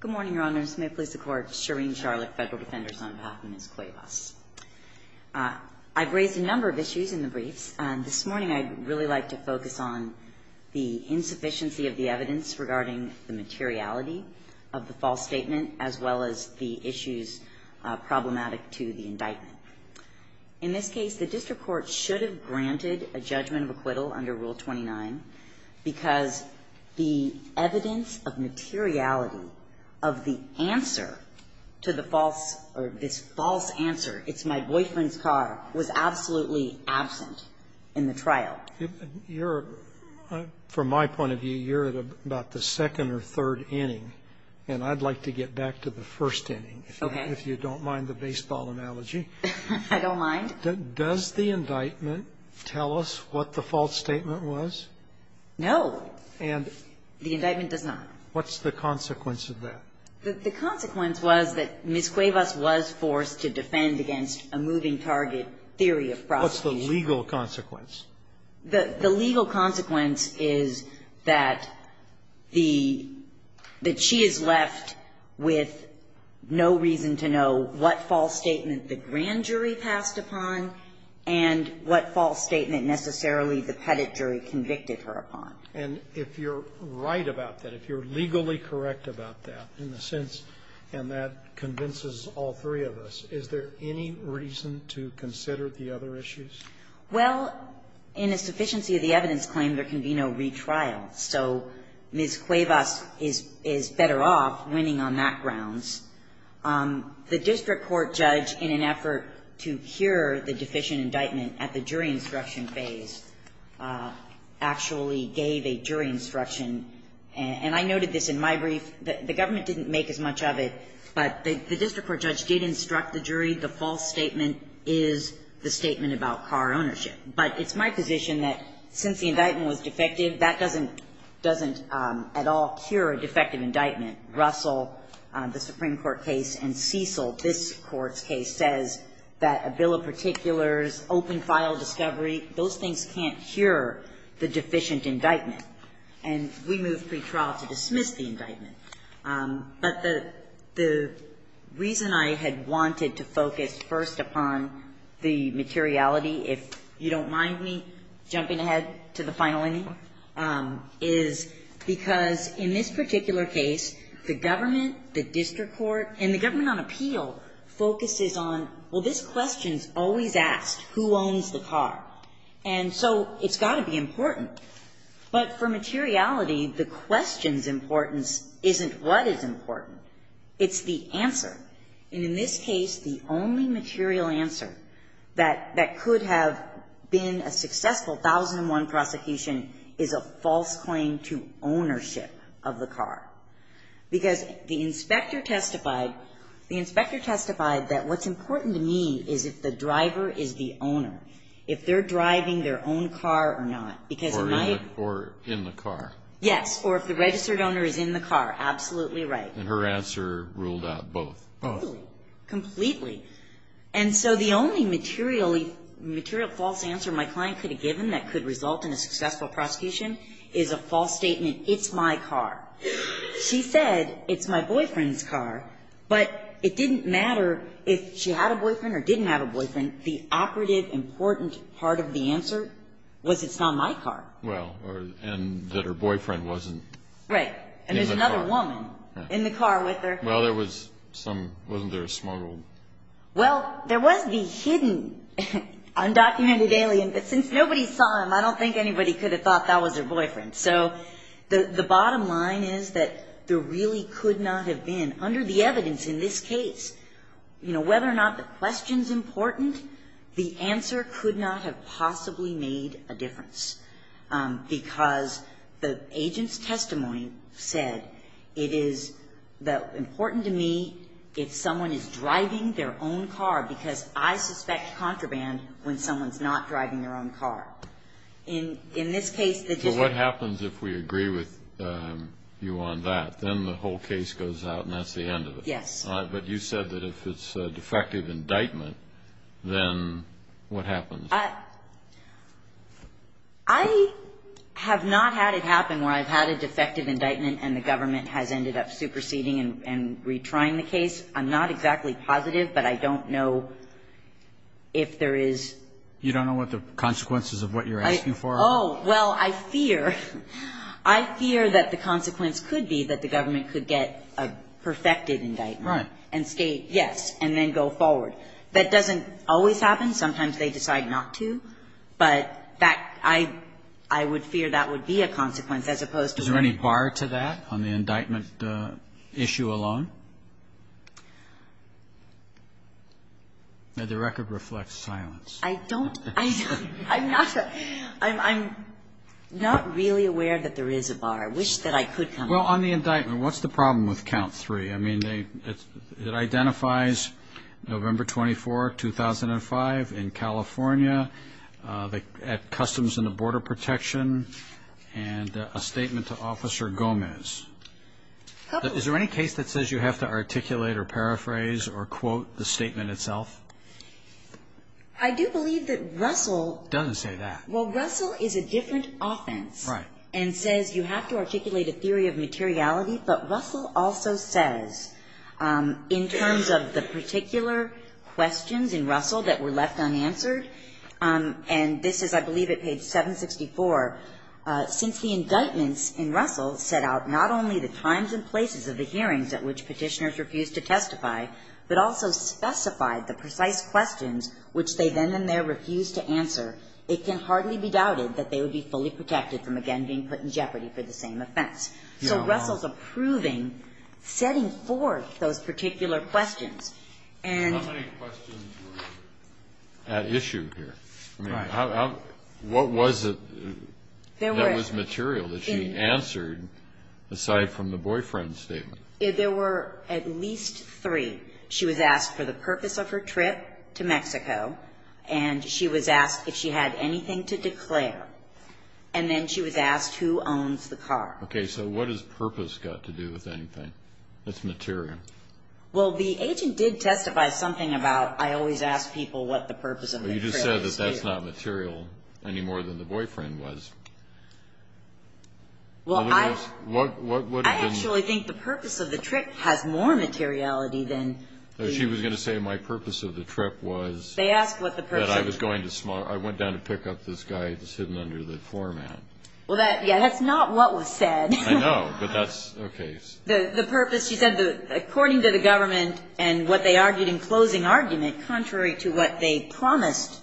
Good morning, Your Honors. May it please the Court, Shireen Charlock, Federal Defenders on behalf of Ms. Cuevas. I've raised a number of issues in the briefs, and this morning I'd really like to focus on the insufficiency of the evidence regarding the materiality of the false statement, as well as the issues problematic to the indictment. In this case, the District Court should have granted a judgment of acquittal under Rule 29 because the evidence of materiality of the answer to the false or this false answer, it's my boyfriend's car, was absolutely absent in the trial. From my point of view, you're at about the second or third inning, and I'd like to get back to the first inning, if you don't mind the baseball analogy. I don't mind. Does the indictment tell us what the false statement was? No. And the indictment does not. What's the consequence of that? The consequence was that Ms. Cuevas was forced to defend against a moving target theory of prosecution. What's the legal consequence? The legal consequence is that the – that she is left with no reason to know what false statement the grand jury passed upon and what false statement necessarily the pettit jury convicted her upon. And if you're right about that, if you're legally correct about that, in a sense, and that convinces all three of us, is there any reason to consider the other issues? Well, in a sufficiency of the evidence claim, there can be no retrial. So Ms. Cuevas is better off winning on that grounds. The district court judge, in an effort to cure the deficient indictment at the jury instruction phase, actually gave a jury instruction, and I noted this in my brief. The government didn't make as much of it, but the district court judge did instruct the jury the false statement is the statement about car ownership. But it's my position that, since the indictment was defective, that doesn't at all cure a defective indictment. Russell, the Supreme Court case, and Cecil, this Court's case, says that a bill of particulars, open file discovery, those things can't cure the deficient indictment. And we moved pretrial to dismiss the indictment. But the reason I had wanted to focus first upon the materiality, if you don't mind me jumping ahead to the final inning, is because in this particular case, the government, the district court, and the government on appeal focuses on, well, this question is always asked, who owns the car? And so it's got to be important. But for materiality, the question's importance isn't what is important. It's the answer. And in this case, the only material answer that could have been a successful 1001 prosecution is a false claim to ownership of the car. Because the inspector testified, the inspector testified that what's important to me is if the driver is the owner, if they're driving their own car or not. Or in the car. Yes. Or if the registered owner is in the car. Absolutely right. And her answer ruled out both. Both. Completely. And so the only material false answer my client could have given that could result in a successful prosecution is a false statement, it's my car. She said, it's my boyfriend's car. But it didn't matter if she had a boyfriend or didn't have a boyfriend. And the operative important part of the answer was it's not my car. Well, and that her boyfriend wasn't in the car. Right. And there's another woman in the car with her. Well, there was some, wasn't there a smuggled? Well, there was the hidden undocumented alien, but since nobody saw him, I don't think anybody could have thought that was her boyfriend. So the bottom line is that there really could not have been, under the evidence in this case, you know, whether or not the question's important, the answer could not have possibly made a difference. Because the agent's testimony said it is important to me if someone is driving their own car, because I suspect contraband when someone's not driving their own car. In this case, the decision. So what happens if we agree with you on that? Then the whole case goes out and that's the end of it. Yes. But you said that if it's a defective indictment, then what happens? I have not had it happen where I've had a defective indictment and the government has ended up superseding and retrying the case. I'm not exactly positive, but I don't know if there is. You don't know what the consequences of what you're asking for are? Oh, well, I fear, I fear that the consequence could be that the government could get a perfected indictment. Right. And state, yes, and then go forward. That doesn't always happen. Sometimes they decide not to. But that, I, I would fear that would be a consequence as opposed to. Is there any bar to that on the indictment issue alone? The record reflects silence. I don't, I'm not, I'm not really aware that there is a bar. I wish that I could come to that. Well, on the indictment, what's the problem with count three? I mean, they, it identifies November 24, 2005, in California, at Customs and Border Protection, and a statement to Officer Gomez. Is there any case that says you have to articulate or paraphrase or quote the statement itself? I do believe that Russell. Doesn't say that. Well, Russell is a different offense. Right. And says you have to articulate a theory of materiality, but Russell also says, in terms of the particular questions in Russell that were left unanswered, and this is, I believe, at page 764, since the indictments in Russell set out not only the times and places of the hearings at which Petitioners refused to testify, but also specified the precise questions which they then and there refused to answer, it can hardly be doubted that they would be fully protected from, again, being put in jeopardy for the same offense. So Russell's approving, setting forth those particular questions. How many questions were at issue here? Right. What was it that was material that she answered, aside from the boyfriend statement? There were at least three. She was asked for the purpose of her trip to Mexico, and she was asked if she had anything to declare. And then she was asked who owns the car. Okay. So what does purpose got to do with anything? That's material. Well, the agent did testify something about, I always ask people what the purpose of the trip is. But you just said that that's not material any more than the boyfriend was. Well, I actually think the purpose of the trip has more materiality than the ---- She was going to say my purpose of the trip was ---- They asked what the purpose was. I went down to pick up this guy that's hidden under the floor mat. Well, that's not what was said. I know, but that's okay. The purpose, she said, according to the government and what they argued in closing argument contrary to what they promised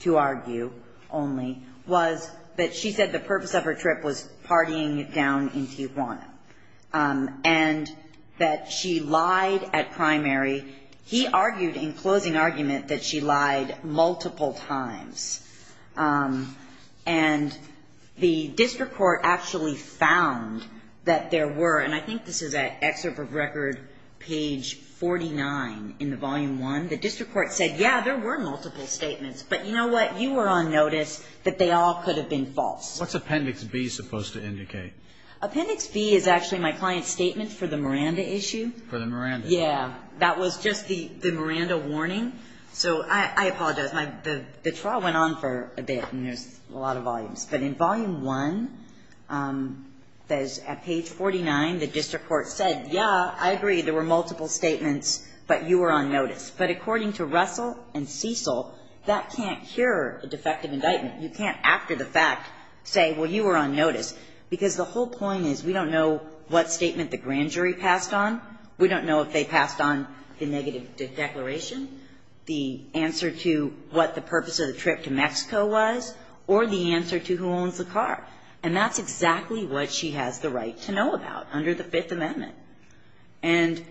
to argue only, was that she said the purpose of her trip was partying down in Tijuana and that she lied at primary. He argued in closing argument that she lied multiple times. And the district court actually found that there were, and I think this is an excerpt of record page 49 in the volume one. The district court said, yeah, there were multiple statements. But you know what? You were on notice that they all could have been false. What's appendix B supposed to indicate? Appendix B is actually my client's statement for the Miranda issue. For the Miranda issue. Yeah. That was just the Miranda warning. So I apologize. The trial went on for a bit, and there's a lot of volumes. But in volume one, at page 49, the district court said, yeah, I agree, there were multiple statements, but you were on notice. But according to Russell and Cecil, that can't cure a defective indictment. You can't, after the fact, say, well, you were on notice. Because the whole point is we don't know what statement the grand jury passed on. We don't know if they passed on the negative declaration, the answer to what the purpose of the trip to Mexico was, or the answer to who owns the car. And that's exactly what she has the right to know about under the Fifth Amendment. And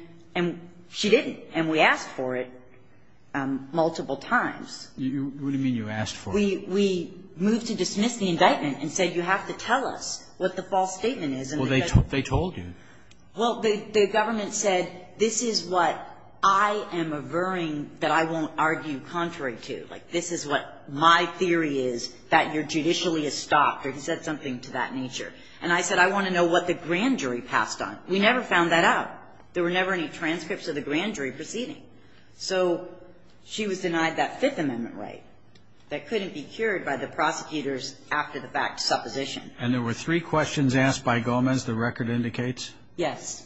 she didn't. And we asked for it multiple times. What do you mean you asked for it? We moved to dismiss the indictment and said you have to tell us what the false statement is. Well, they told you. Well, the government said this is what I am averring that I won't argue contrary to. Like, this is what my theory is that you're judicially estopped, or he said something to that nature. And I said I want to know what the grand jury passed on. We never found that out. There were never any transcripts of the grand jury proceeding. So she was denied that Fifth Amendment right that couldn't be cured by the prosecutors after the fact supposition. And there were three questions asked by Gomez, the record indicates? Yes.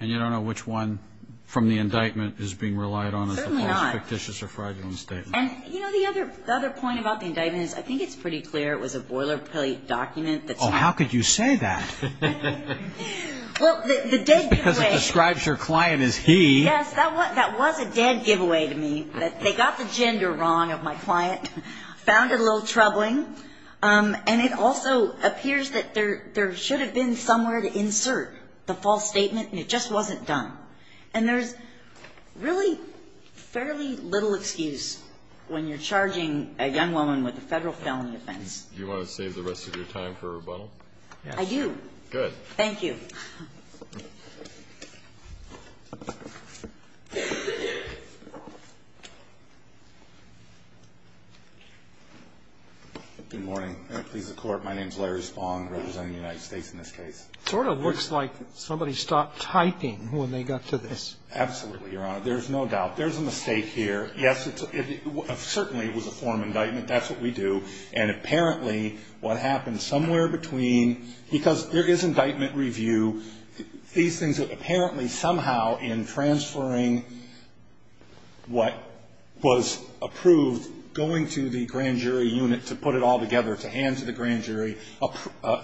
And you don't know which one from the indictment is being relied on as the false, fictitious, or fraudulent statement? You know, the other point about the indictment is I think it's pretty clear it was a boilerplate document. Oh, how could you say that? Because it describes your client as he. Yes, that was a dead giveaway to me that they got the gender wrong of my client, found it a little troubling. And it also appears that there should have been somewhere to insert the false statement and it just wasn't done. And there's really fairly little excuse when you're charging a young woman with a Federal felony offense. Do you want to save the rest of your time for rebuttal? Yes. I do. Good. Thank you. Good morning. Please, the Court. My name is Larry Spong, representing the United States in this case. It sort of looks like somebody stopped typing when they got to this. Absolutely, Your Honor. There's no doubt. There's a mistake here. Yes, it certainly was a form indictment. That's what we do. There's a mistake here. It certainly was a form indictment. That's what we do. These things that apparently somehow in transferring what was approved, going to the grand jury unit to put it all together, to hand to the grand jury,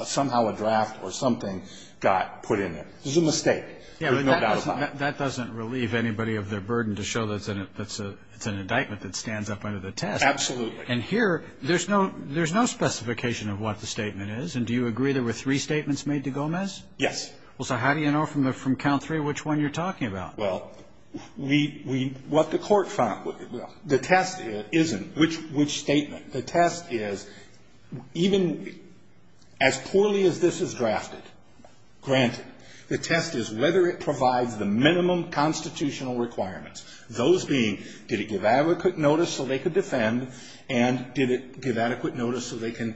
somehow a draft or something got put in there. There's a mistake. There's no doubt about it. That doesn't relieve anybody of their burden to show that it's an indictment that stands up under the test. Absolutely. And here, there's no specification of what the statement is. And do you agree there were three statements made to Gomez? Yes. Well, so how do you know from count three which one you're talking about? Well, we what the court found. The test isn't which statement. The test is even as poorly as this is drafted, granted, the test is whether it provides the minimum constitutional requirements, those being did it give adequate notice so they could defend, and did it give adequate notice so they can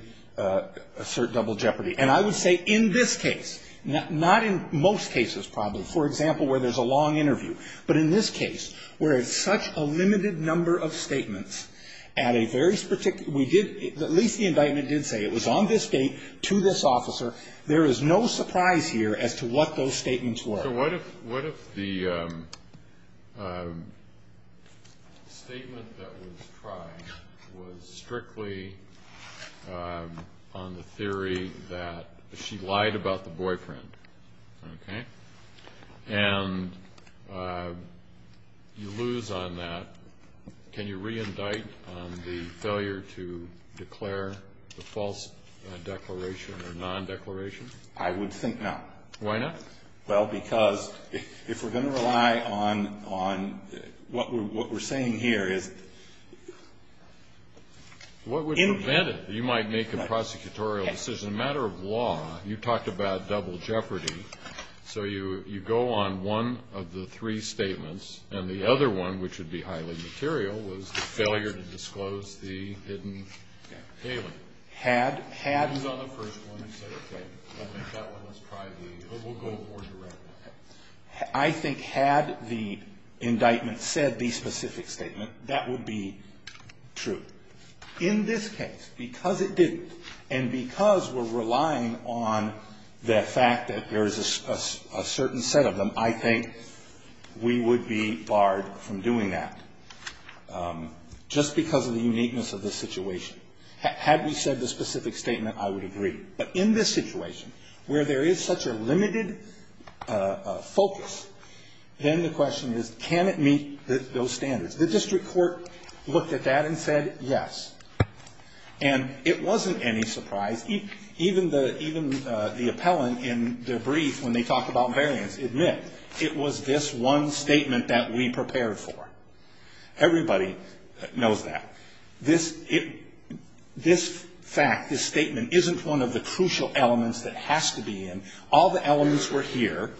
assert double jeopardy. And I would say in this case, not in most cases probably. For example, where there's a long interview. But in this case, where it's such a limited number of statements at a very particular we did at least the indictment did say it was on this date to this officer. There is no surprise here as to what those statements were. So what if the statement that was tried was strictly on the theory that she lied about the boyfriend? Okay. And you lose on that. Can you reindict on the failure to declare the false declaration or non-declaration? I would think not. Why not? Well, because if we're going to rely on what we're saying here is the impact. What would prevent it? You might make a prosecutorial decision. As a matter of law, you talked about double jeopardy. So you go on one of the three statements, and the other one, which would be highly material, was the failure to disclose the hidden statement. Had. Had. I think had the indictment said the specific statement, that would be true. In this case, because it didn't, and because we're relying on the fact that there is a certain set of them, I think we would be barred from doing that just because of the uniqueness of the situation. Had we said the specific statement, I would agree. But in this situation, where there is such a limited focus, then the question is, can it meet those standards? The district court looked at that and said yes. And it wasn't any surprise. Even the appellant in their brief when they talk about variance admit it was this one statement that we prepared for. Everybody knows that. This fact, this statement, isn't one of the crucial elements that has to be in. All the elements were here.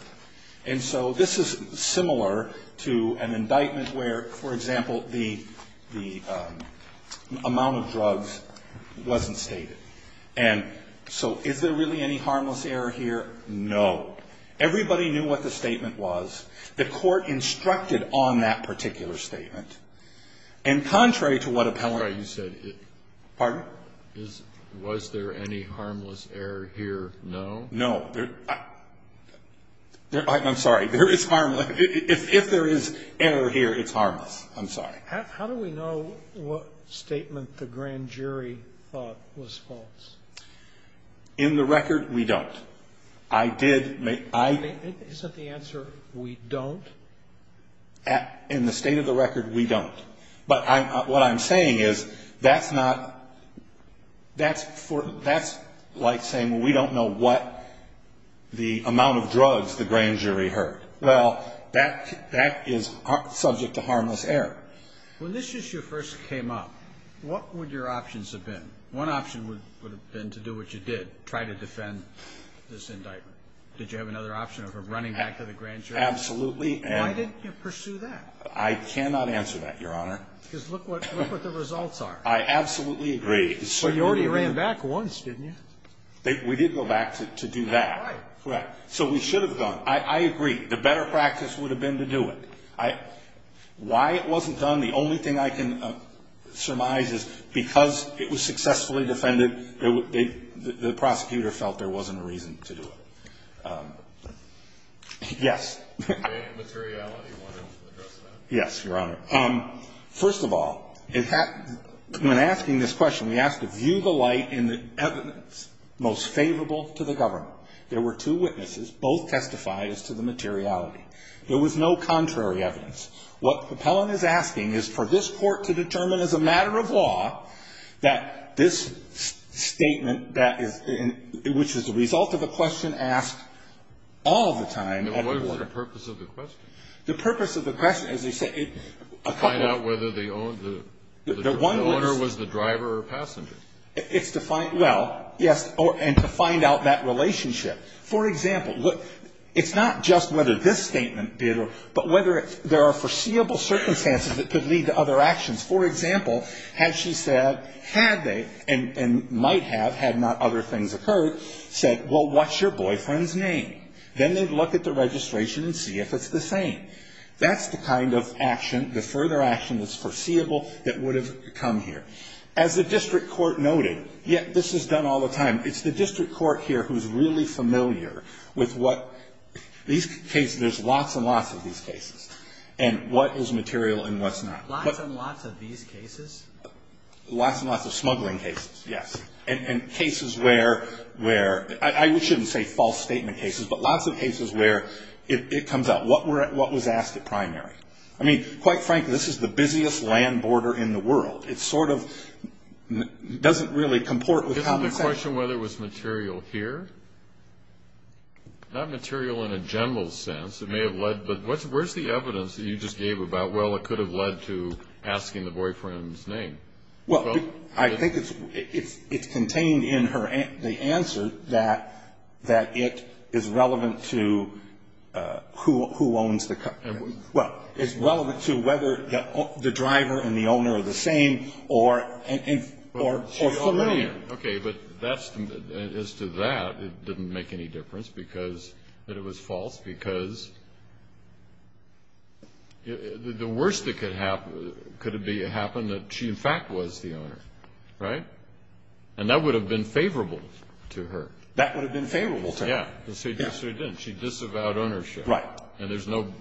And so this is similar to an indictment where, for example, the amount of drugs wasn't stated. And so is there really any harmless error here? No. Everybody knew what the statement was. The court instructed on that particular statement. And contrary to what appellant. Pardon? Was there any harmless error here? No. No. I'm sorry. If there is error here, it's harmless. I'm sorry. How do we know what statement the grand jury thought was false? In the record, we don't. I did. Isn't the answer we don't? In the state of the record, we don't. But what I'm saying is that's not, that's like saying we don't know what the amount of drugs the grand jury heard. Well, that is subject to harmless error. When this issue first came up, what would your options have been? One option would have been to do what you did, try to defend this indictment. Did you have another option of running back to the grand jury? Absolutely. Why didn't you pursue that? I cannot answer that, Your Honor. Because look what the results are. I absolutely agree. But you already ran back once, didn't you? We did go back to do that. Right. So we should have done. I agree. The better practice would have been to do it. Why it wasn't done, the only thing I can surmise is because it was successfully defended, the prosecutor felt there wasn't a reason to do it. Yes. Yes, Your Honor. First of all, when asking this question, we asked to view the light in the evidence most favorable to the government. There were two witnesses. Both testified as to the materiality. There was no contrary evidence. What the appellant is asking is for this court to determine as a matter of law that this statement that is, which is the result of a question asked all the time. And what was the purpose of the question? The purpose of the question, as I said, a couple of them. To find out whether the owner was the driver or passenger. It's to find, well, yes, and to find out that relationship. For example, look, it's not just whether this statement did or, but whether there are foreseeable circumstances that could lead to other actions. For example, had she said, had they, and might have had not other things occurred, said, well, what's your boyfriend's name? Then they'd look at the registration and see if it's the same. That's the kind of action, the further action that's foreseeable that would have come here. As the district court noted, yet this is done all the time, it's the district court here who's really familiar with what these cases, there's lots and lots of these cases, and what is material and what's not. Lots and lots of these cases? Lots and lots of smuggling cases, yes. And cases where, I shouldn't say false statement cases, but lots of cases where it comes up, what was asked at primary? I mean, quite frankly, this is the busiest land border in the world. It sort of doesn't really comport with common sense. Isn't the question whether it was material here? Not material in a general sense. It may have led, but where's the evidence that you just gave about, well, it could have led to asking the boyfriend's name? Well, I think it's contained in the answer that it is relevant to who owns the car. Well, it's relevant to whether the driver and the owner are the same or familiar. Okay, but as to that, it didn't make any difference because it was false because the worst that could happen, could it happen that she in fact was the owner, right? And that would have been favorable to her. That would have been favorable to her. Yeah. Yes, it did. She disavowed ownership. Right. And there's no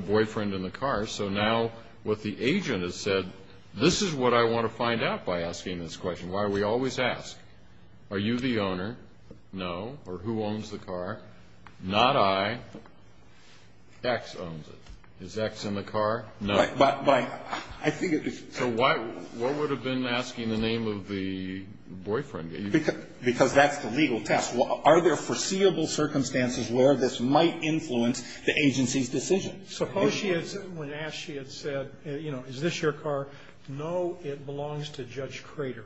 boyfriend in the car, so now what the agent has said, this is what I want to find out by asking this question, why we always ask, are you the owner? No. Or who owns the car? Not I. X owns it. Is X in the car? No. But I think it is. So what would have been asking the name of the boyfriend? Because that's the legal test. Are there foreseeable circumstances where this might influence the agency's decision? Suppose she had, when asked, she had said, you know, is this your car? No, it belongs to Judge Crater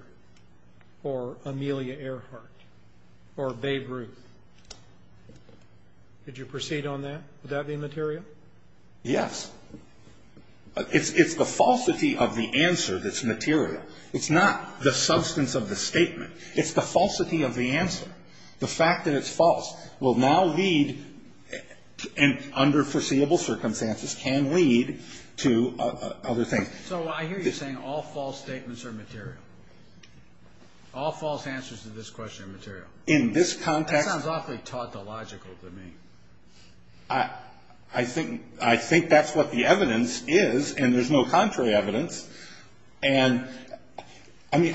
or Amelia Earhart or Babe Ruth. Did you proceed on that? Would that be material? Yes. It's the falsity of the answer that's material. It's not the substance of the statement. It's the falsity of the answer. The fact that it's false will now lead, under foreseeable circumstances, can lead to other things. So I hear you saying all false statements are material. All false answers to this question are material. In this context. That sounds awfully tautological to me. I think that's what the evidence is, and there's no contrary evidence. And, I mean,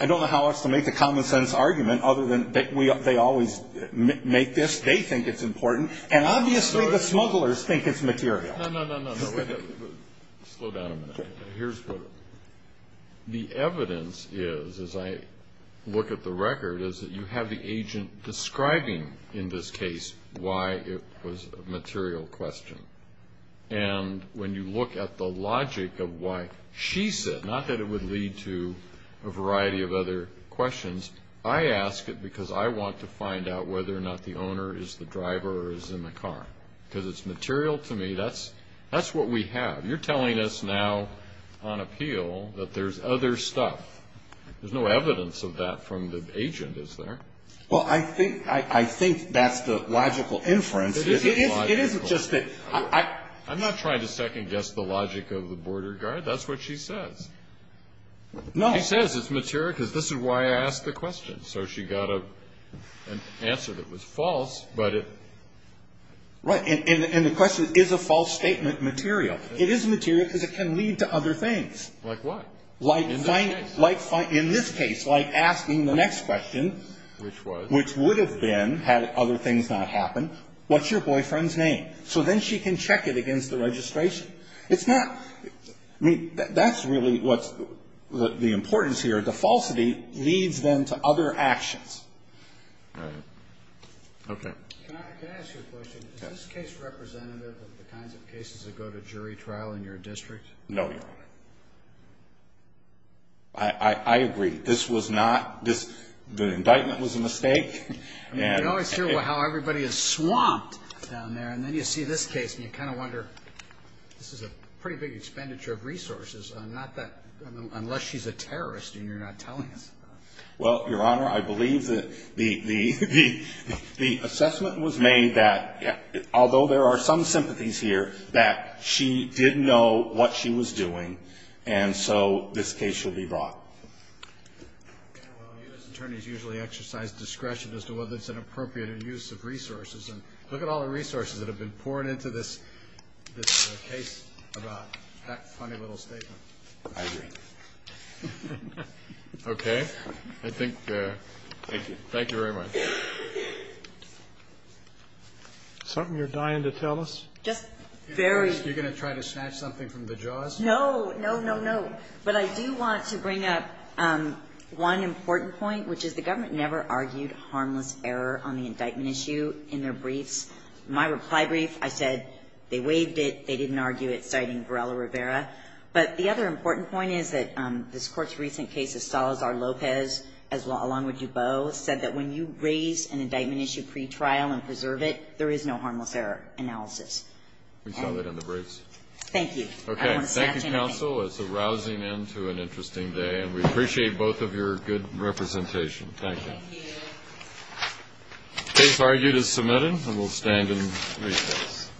I don't know how else to make a common-sense argument other than they always make this. They think it's important. And obviously the smugglers think it's material. No, no, no, no. Slow down a minute. The evidence is, as I look at the record, is that you have the agent describing, in this case, why it was a material question. And when you look at the logic of why she said, not that it would lead to a variety of other questions, I ask it because I want to find out whether or not the owner is the driver or is in the car. Because it's material to me. That's what we have. You're telling us now on appeal that there's other stuff. There's no evidence of that from the agent, is there? Well, I think that's the logical inference. It isn't logical. It isn't just that. I'm not trying to second-guess the logic of the border guard. That's what she says. No. She says it's material because this is why I asked the question. So she got an answer that was false, but it. Right. And the question is, is a false statement material? It is material because it can lead to other things. Like what? In this case, like asking the next question. Which was? Which would have been, had other things not happened, what's your boyfriend's name? So then she can check it against the registration. It's not. I mean, that's really what's the importance here. The falsity leads them to other actions. Right. Okay. Can I ask you a question? Yes. Is this case representative of the kinds of cases that go to jury trial in your district? No, Your Honor. I agree. This was not. The indictment was a mistake. You always hear how everybody is swamped down there, and then you see this case, and you kind of wonder, this is a pretty big expenditure of resources, unless she's a terrorist and you're not telling us about it. Well, Your Honor, I believe that the assessment was made that, although there are some sympathies here, that she did know what she was doing, and so this case should be brought. Well, U.S. attorneys usually exercise discretion as to whether it's an appropriate use of resources, and look at all the resources that have been poured into this case about that funny little statement. I agree. Okay. I think. Thank you. Thank you very much. Something you're dying to tell us? Just very. You're going to try to snatch something from the jaws? No, no, no, no. But I do want to bring up one important point, which is the government never argued harmless error on the indictment issue in their briefs. My reply brief, I said they waived it, they didn't argue it, citing Varela Rivera. But the other important point is that this Court's recent case of Salazar-Lopez, along with DuBose, said that when you raise an indictment issue pretrial and preserve it, there is no harmless error analysis. We saw that in the briefs. Thank you. I don't want to snatch anything. Okay. Thank you, counsel. It's a rousing end to an interesting day, and we appreciate both of your good representation. Thank you. Thank you. The case argued is submitted, and we'll stand and recess.